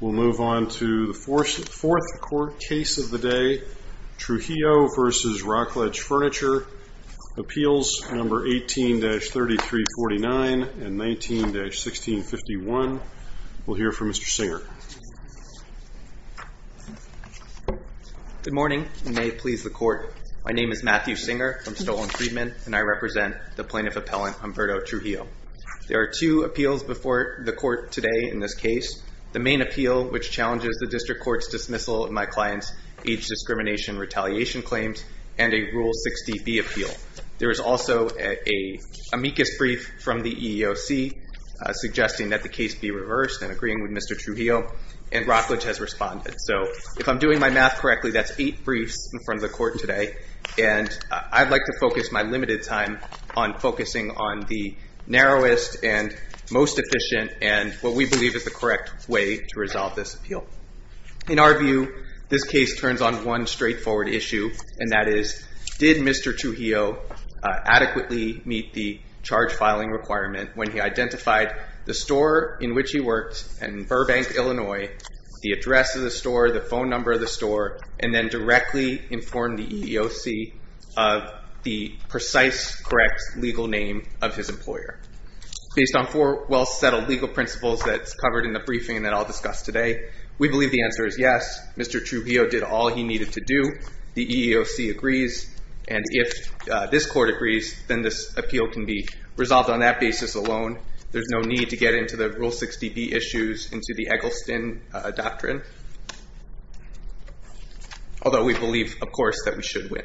We'll move on to the fourth court case of the day. Trujillo v. Rockledge Furniture. Appeals number 18-3349 and 19-1651. We'll hear from Mr. Singer. Good morning and may it please the court. My name is Matthew Singer from Stowell and Friedman and I represent the plaintiff appellant Humberto Trujillo. There are two appeals before the court today in this case. The main appeal, which challenges the district court's dismissal of my client's age discrimination retaliation claims and a Rule 60B appeal. There is also a amicus brief from the EEOC suggesting that the case be reversed and agreeing with Mr. Trujillo and Rockledge has responded. So if I'm doing my math correctly, that's eight briefs in front of the court today. And I'd like to focus my limited time on focusing on the narrowest and most efficient and what we believe is the correct way to resolve this appeal. In our view, this case turns on one straightforward issue and that is, did Mr. Trujillo adequately meet the charge filing requirement when he identified the store in which he works in Burbank, Illinois, the address of the store, the EEOC of the precise, correct legal name of his employer. Based on four well-settled legal principles that's covered in the briefing that I'll discuss today, we believe the answer is yes, Mr. Trujillo did all he needed to do. The EEOC agrees. And if this court agrees, then this appeal can be resolved on that basis alone. There's no need to get into the Rule 60B issues into the Eggleston doctrine. Although we believe, of course, that we should win.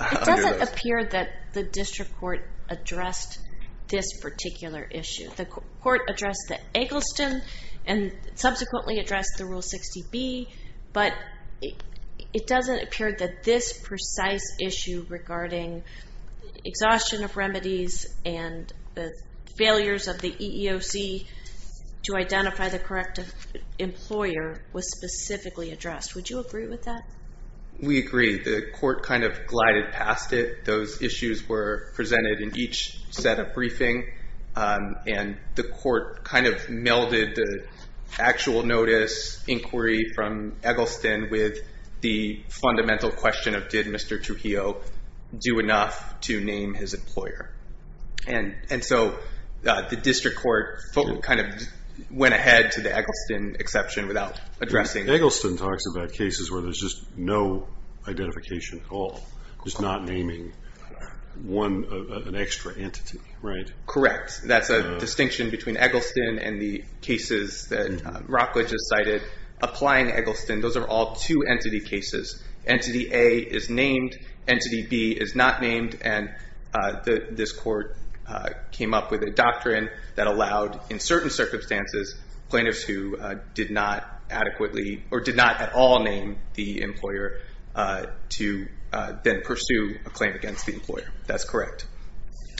It doesn't appear that the district court addressed this particular issue. The court addressed the Eggleston and subsequently addressed the Rule 60B, but it doesn't appear that this precise issue regarding exhaustion of remedies and the failures of the EEOC to identify the correct employer was specifically addressed. Would you agree with that? We agree. The court kind of glided past it. Those issues were presented in each set of briefing and the court kind of melded the actual notice inquiry from Eggleston with the fundamental question of, did Mr. Trujillo do enough to name his employer? And so the district court kind of went ahead to the Eggleston exception without addressing it. Eggleston talks about cases where there's just no identification at all, just not naming an extra entity, right? Correct. That's a distinction between Eggleston and the cases that Rockledge has cited. Applying Eggleston, those are all two entity cases. Entity A is named, entity B is not named, and this court came up with a doctrine that allowed, in certain circumstances, plaintiffs who did not adequately or did not at all name the employer to then pursue a claim against the employer. That's correct.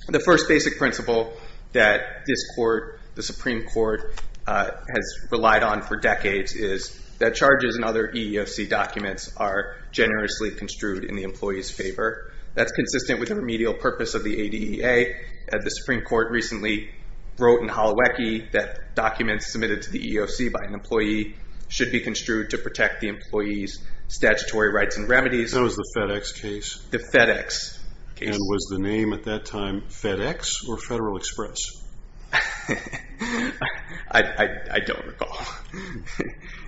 The first basic principle that this court, the Supreme Court, has relied on for this case is to have the employer generously construed in the employee's favor. That's consistent with the remedial purpose of the ADEA. The Supreme Court recently wrote in Holowecki that documents submitted to the EEOC by an employee should be construed to protect the employee's statutory rights and remedies. That was the FedEx case? The FedEx case. And was the name at that time FedEx or Federal Express? I don't recall.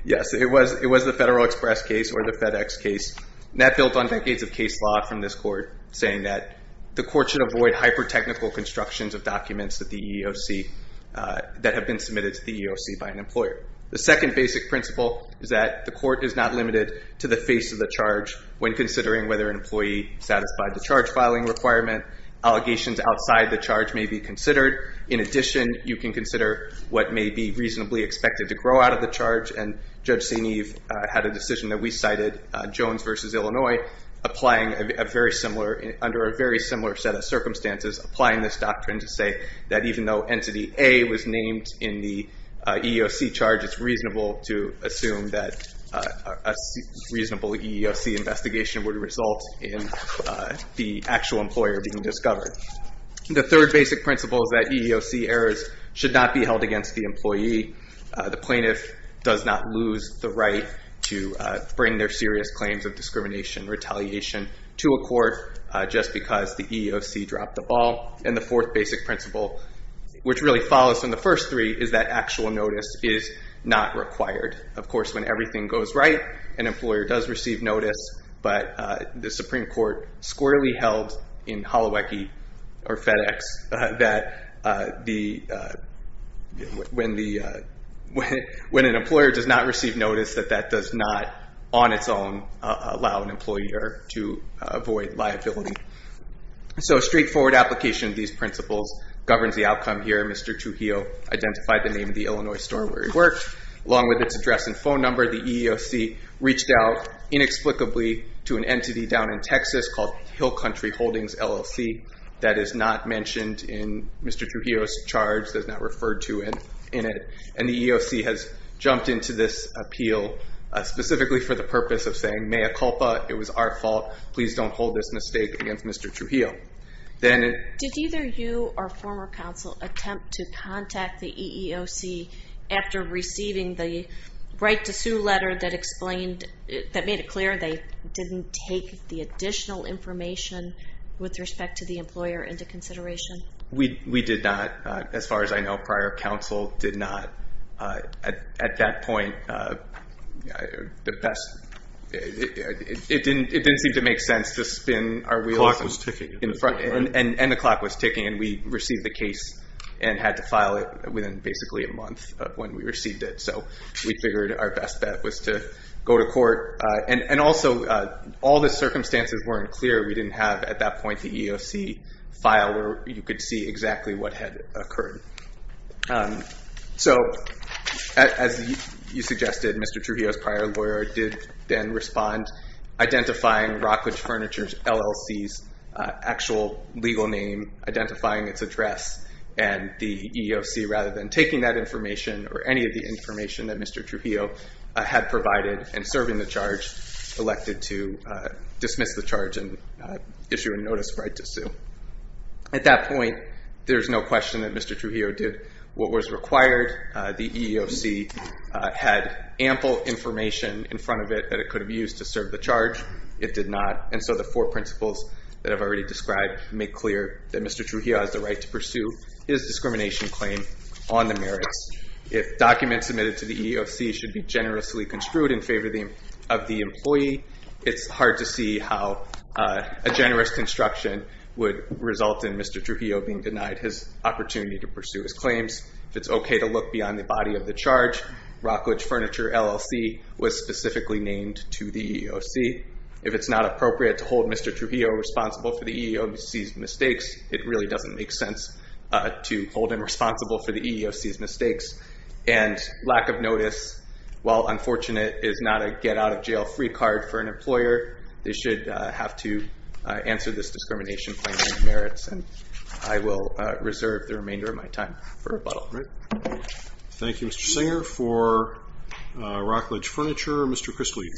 Yes, it was the Federal Express case or the FedEx case. That built on decades of case law from this court, saying that the court should avoid hyper-technical constructions of documents that have been submitted to the EEOC by an employer. The second basic principle is that the court is not limited to the face of the charge when considering whether an employee satisfied the charge filing requirement. Allegations outside the charge may be considered. In addition, you can consider what may be reasonably expected to grow out of the charge. And Judge Senev had a decision that we cited, Jones v. Illinois, applying under a very similar set of circumstances, applying this doctrine to say that even though Entity A was named in the EEOC charge, it's reasonable to assume that a reasonable EEOC investigation would result in the actual employer being discovered. The third basic principle is that EEOC errors should not be held against the employee. The plaintiff does not lose the right to bring their serious claims of discrimination, retaliation to a court just because the EEOC dropped the ball. And the fourth basic principle, which really follows from the first three, is that actual notice is not required. Of course, when everything goes right, an employer does receive notice, but the or FedEx, that when an employer does not receive notice, that that does not, on its own, allow an employer to avoid liability. So a straightforward application of these principles governs the outcome here. Mr. Trujillo identified the name of the Illinois store where he worked, along with its address and phone number. The EEOC reached out inexplicably to an entity down in Texas called Hill Country Holdings LLC. That is not mentioned in Mr. Trujillo's charge, does not refer to it in it. And the EEOC has jumped into this appeal specifically for the purpose of saying, mea culpa, it was our fault. Please don't hold this mistake against Mr. Trujillo. Then... Did either you or former counsel attempt to contact the EEOC after receiving the right to sue letter that explained, that made it clear they didn't take the employer into consideration? We did not. As far as I know, prior counsel did not. At that point, it didn't seem to make sense to spin our wheels. The clock was ticking. And the clock was ticking and we received the case and had to file it within basically a month of when we received it. So we figured our best bet was to go to court. And also, all the circumstances weren't clear. We didn't have, at that point, the EEOC file where you could see exactly what had occurred. So, as you suggested, Mr. Trujillo's prior lawyer did then respond, identifying Rockledge Furniture LLC's actual legal name, identifying its address and the EEOC, rather than taking that information or any of the information that Mr. Trujillo had provided and serving the charge, elected to dismiss the charge and issue a notice of right to sue. At that point, there's no question that Mr. Trujillo did what was required. The EEOC had ample information in front of it that it could have used to serve the charge. It did not. And so the four principles that I've already described make clear that Mr. Trujillo has the right to pursue his discrimination claim on the merits. If documents submitted to the EEOC should be generously construed in favor of the employee, it's hard to see how a generous construction would result in Mr. Trujillo being denied his opportunity to pursue his claims. If it's okay to look beyond the body of the charge, Rockledge Furniture LLC was specifically named to the EEOC. If it's not appropriate to hold Mr. Trujillo responsible for the EEOC's mistakes, it really doesn't make sense to hold him responsible for the EEOC's mistakes. And lack of notice, while unfortunate, is not a get-out-of-jail-free card for an employer. They should have to answer this discrimination claim on their merits, and I will reserve the remainder of my time for rebuttal. Thank you, Mr. Singer. For Rockledge Furniture, Mr. Chris Leib.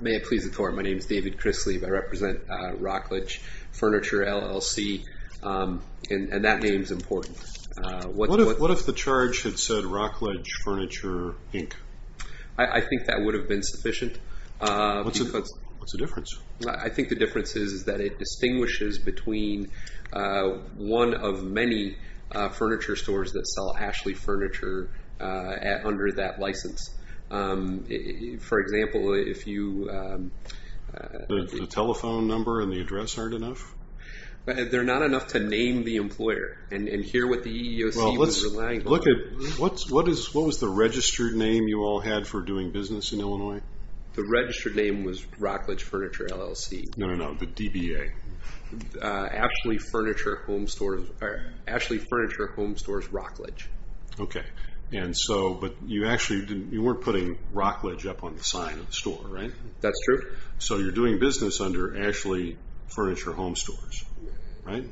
May it please the court, my name is David Chris Leib. I represent Rockledge Furniture LLC, and that name's important. What if the charge had said Rockledge Furniture, Inc.? I think that would have been sufficient. What's the difference? I think the difference is that it distinguishes between one of many furniture stores that sell Ashley Furniture under that license. For example, if you... The telephone number and the address aren't enough? They're not enough to name the employer and hear what the EEOC was relying on. Well, what was the registered name you all had for doing business in Illinois? The registered name was Rockledge Furniture, LLC. No, no, no, the DBA. Ashley Furniture Home Stores Rockledge. Okay. And so, but you actually didn't... You weren't putting Rockledge up on the sign of the store, right? That's true. So you're doing business under Ashley Furniture Home Stores, right?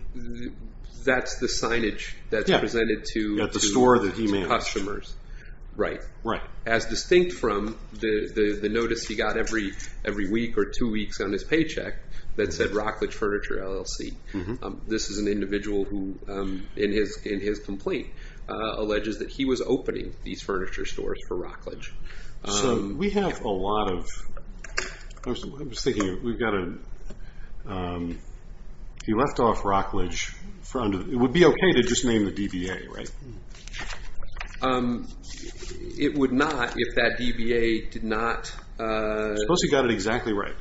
That's the signage that's presented to... At the store that he managed. ...customers. Right. Right. As distinct from the notice he got every week or two weeks on his paycheck that said Rockledge Furniture, LLC. This is an individual who, in his complaint, alleges that he was opening these furniture stores for Rockledge. So we have a lot of... I'm just thinking, we've got a... He left off Rockledge for under... It would be okay to just name the DBA, right? It would not if that DBA did not... Suppose he got it exactly right.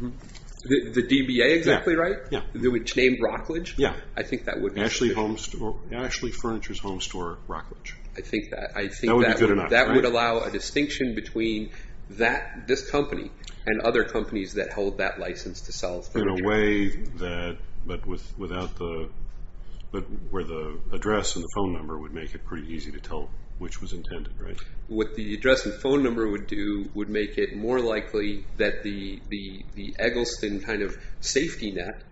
The DBA exactly right? Yeah. It would be named Rockledge? Yeah. I think that would... Ashley Home Store... Ashley Furniture's Home Store, Rockledge. I think that would allow a distinction between this company and other companies that hold that license to sell... In a way that, but without the... But where the address and the phone number would make it pretty easy to tell which was intended, right? What the address and phone number would do would make it more likely that the Eggleston kind of safety net,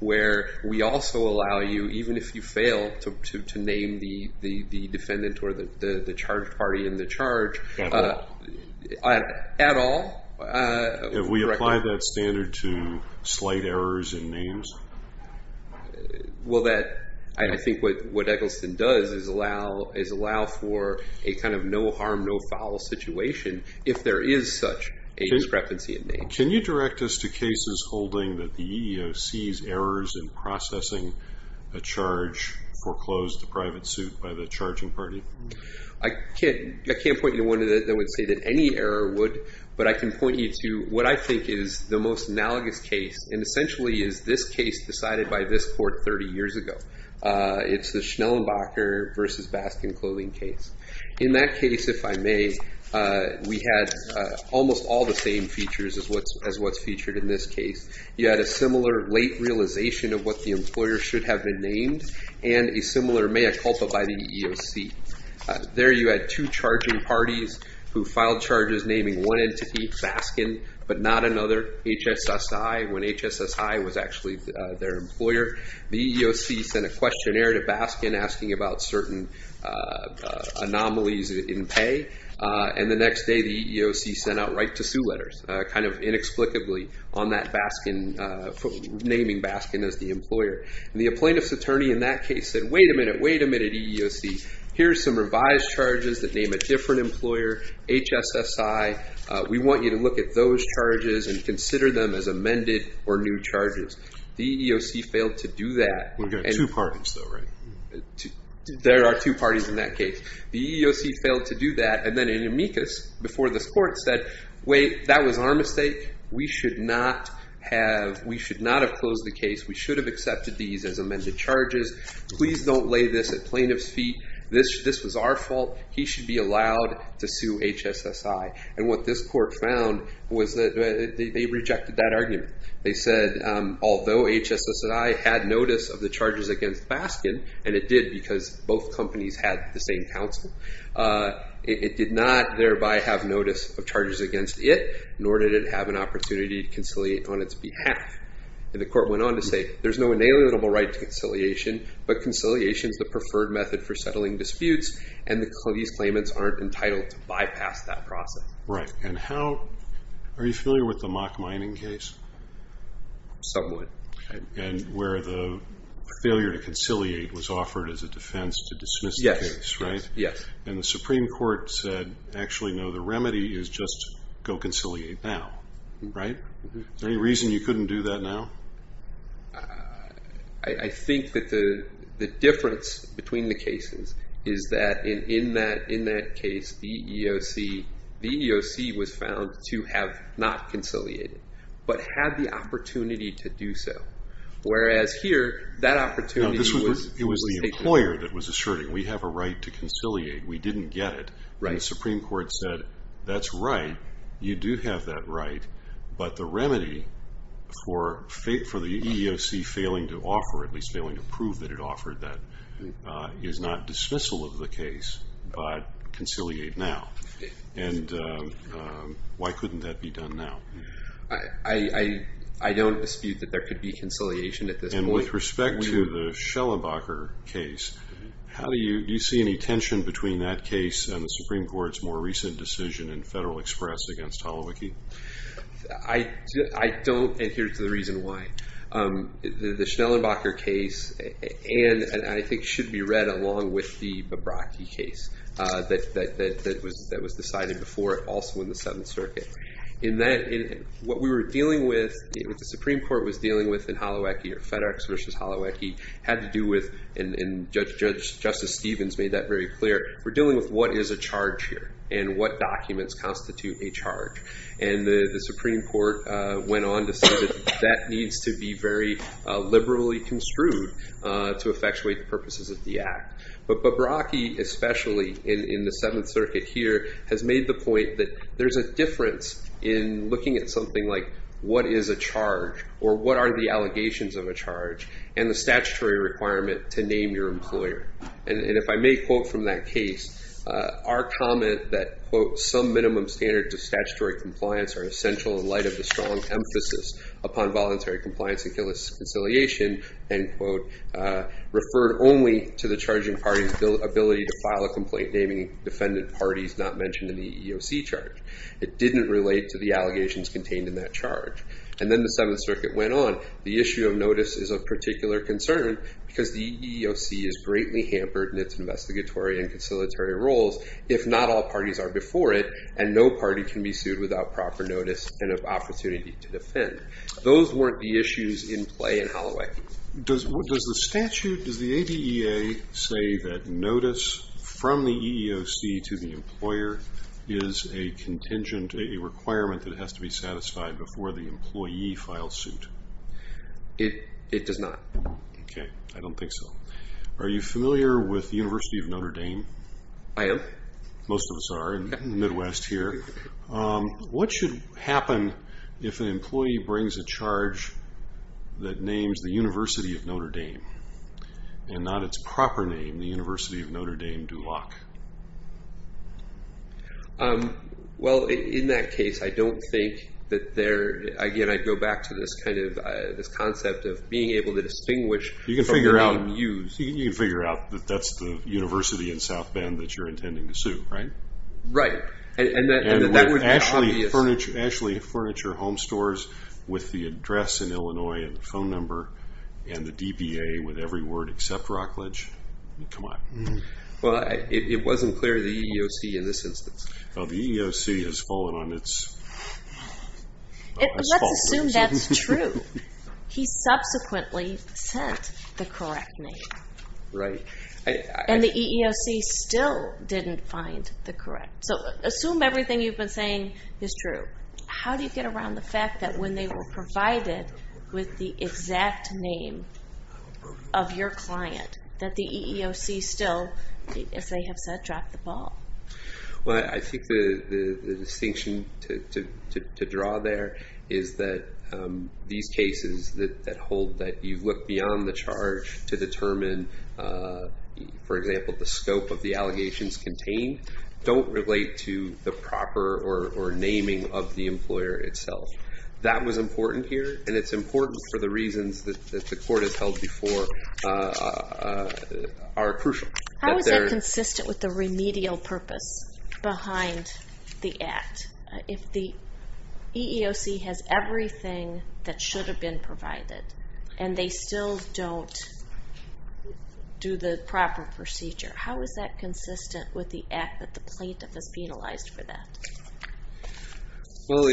where we also allow you, even if you fail, to name the defendant or the charged party in the charge... At all. At all? If we apply that standard to slight errors in names? Well, that... I think what Eggleston does is allow for a kind of no harm, no foul situation if there is such a discrepancy in name. Can you direct us to cases holding that the EEOC's errors in processing a charge foreclosed the private suit by the charging party? I can't point you to one that would say that any error would, but I can point you to what I think is the most analogous case. And essentially is this case decided by this court 30 years ago. It's the Schnellenbacher versus Baskin clothing case. In that case, if I may, we had almost all the same features as what's featured in this case. You had a similar late realization of what the employer should have been named and a similar mea culpa by the EEOC. There you had two charging parties who filed charges naming one entity, Baskin, but not another, HSSI, when HSSI was actually their employer. The EEOC sent a questionnaire to Baskin asking about certain anomalies in pay. And the next day the EEOC sent out right to sue letters, kind of inexplicably on that Baskin, naming Baskin as the employer. And the plaintiff's attorney in that case said, wait a minute, wait a minute, EEOC, here's some revised charges that name a different employer, HSSI. We want you to look at those charges and consider them as amended or new charges. The EEOC failed to do that. We've got two parties though, right? There are two parties in that case. The EEOC failed to do that. And then in amicus before this court said, wait, that was our mistake. We should not have closed the case. We should have accepted these as amended charges. Please don't lay this at plaintiff's feet. This was our fault. He should be allowed to sue HSSI. And what this court found was that they rejected that argument. They said, although HSSI had notice of the charges against Baskin, and it did because both companies had the same counsel, it did not thereby have notice of charges against it, nor did it have an opportunity to conciliate on its behalf. And the court went on to say, there's no inalienable right to conciliation, but conciliation is the preferred method for settling disputes. And these claimants aren't entitled to bypass that process. Right. And how, are you familiar with the mock mining case? Somewhat. And where the failure to conciliate was offered as a defense to dismiss the case, right? Yes. And the Supreme Court said, actually, no, the remedy is just go conciliate now, right? Is there any reason you couldn't do that now? I think that the difference between the cases is that in that case, the EEOC was found to have not conciliated, but had the opportunity to do so. Whereas here, that opportunity was taken away. It was the employer that was asserting, we have a right to conciliate. We didn't get it. Right. And the Supreme Court said, that's right, you do have that right, but the remedy for the EEOC failing to offer, at least failing to prove that it offered that, is not dismissal of the case, but conciliate now. And why couldn't that be done now? I don't dispute that there could be conciliation at this point. With respect to the Schellenbacher case, do you see any tension between that case and the Supreme Court's more recent decision in Federal Express against Holowecki? I don't adhere to the reason why. The Schellenbacher case, and I think should be read along with the Babrocki case that was decided before it, also in the Seventh Circuit. In that, what we were dealing with, what the Supreme Court was dealing with in Holowecki, or FedEx versus Holowecki, had to do with, and Justice Stevens made that very clear, we're dealing with what is a charge here, and what documents constitute a charge. And the Supreme Court went on to say that that needs to be very liberally construed to effectuate the purposes of the act. But Babrocki, especially in the Seventh Circuit here, has made the point that there's a difference in looking at something like what is a charge, or what are the allegations of a charge, and the statutory requirement to name your employer. And if I may quote from that case, our comment that, quote, some minimum standards of statutory compliance are essential in light of the strong emphasis upon voluntary compliance and conciliation, end quote, referred only to the charging party's ability to file a complaint naming defendant parties not mentioned in the EEOC charge. It didn't relate to the allegations contained in that charge. And then the Seventh Circuit went on, the issue of notice is of particular concern, because the EEOC is greatly hampered in its investigatory and conciliatory roles, if not all parties are before it, and no party can be sued without proper notice and an opportunity to defend. Those weren't the issues in play in Hollowecki. Does the statute, does the ADEA say that notice from the EEOC to the employer is a contingent, a requirement that has to be satisfied before the employee files suit? It does not. Okay, I don't think so. Are you familiar with the University of Notre Dame? I am. Most of us are in the Midwest here. What should happen if an employee brings a charge that names the University of Notre Dame, and not its proper name, the University of Notre Dame Duloc? Well, in that case, I don't think that there, again, I go back to this kind of, this concept of being able to distinguish from being used. You can figure out, you can figure out that that's the university in South Bend that you're intending to sue, right? Right. And that would be obvious. Ashley Furniture Home Stores, with the address in Illinois, and the phone number, and the DBA, with every word except Rockledge, come on. Well, it wasn't clear to the EEOC in this instance. Well, the EEOC has fallen on its... Let's assume that's true. He subsequently sent the correct name. Right. And the EEOC still didn't find the correct. So, assume everything you've been saying is true. How do you get around the fact that when they were provided with the exact name of your client, that the EEOC still, as they have said, dropped the ball? Well, I think the distinction to draw there is that these cases that hold that you've looked beyond the charge to determine, for example, the scope of the allegations contained, don't relate to the proper or naming of the employer itself. That was important here, and it's important for the reasons that the court has held before are crucial. How is that consistent with the remedial purpose behind the act? If the EEOC has everything that should have been provided, and they still don't do the proper procedure, how is that consistent with the act that the plaintiff has penalized for that? Well,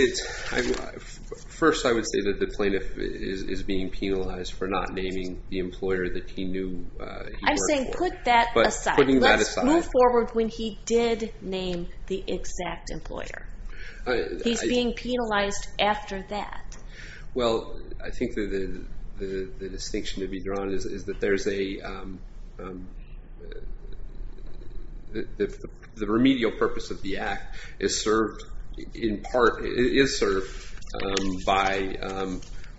first, I would say that the plaintiff is being penalized for not naming the employer that he knew he worked for. You're saying put that aside. Let's move forward when he did name the exact employer. He's being penalized after that. Well, I think the distinction to be drawn is that the remedial purpose of the act is served in part by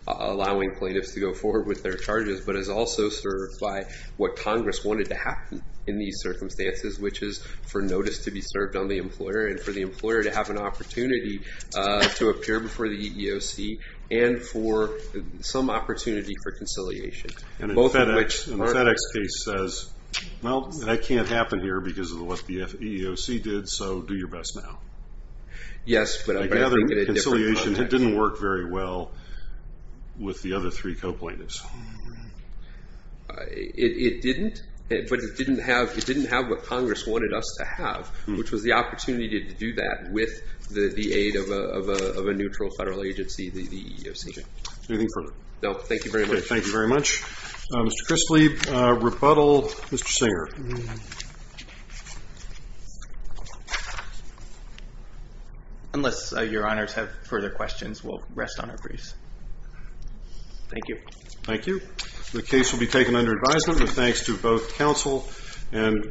allowing plaintiffs to go forward with their charges, but is also served by what Congress wanted to happen in these circumstances, which is for notice to be served on the employer and for the employer to have an opportunity to appear before the EEOC and for some opportunity for conciliation, both of which are- And the FedEx case says, well, that can't happen here because of what the EEOC did, so do your best now. Yes, but I'm going to think in a different context. I gather conciliation didn't work very well with the other three co-plaintiffs. It didn't, but it didn't have what Congress wanted us to have, which was the opportunity to do that with the aid of a neutral federal agency, the EEOC. Anything further? No, thank you very much. Thank you very much. Mr. Chrisley, rebuttal, Mr. Singer. Unless your honors have further questions, we'll rest on our briefs. Thank you. Thank you. The case will be taken under advisement with thanks to both counsel and-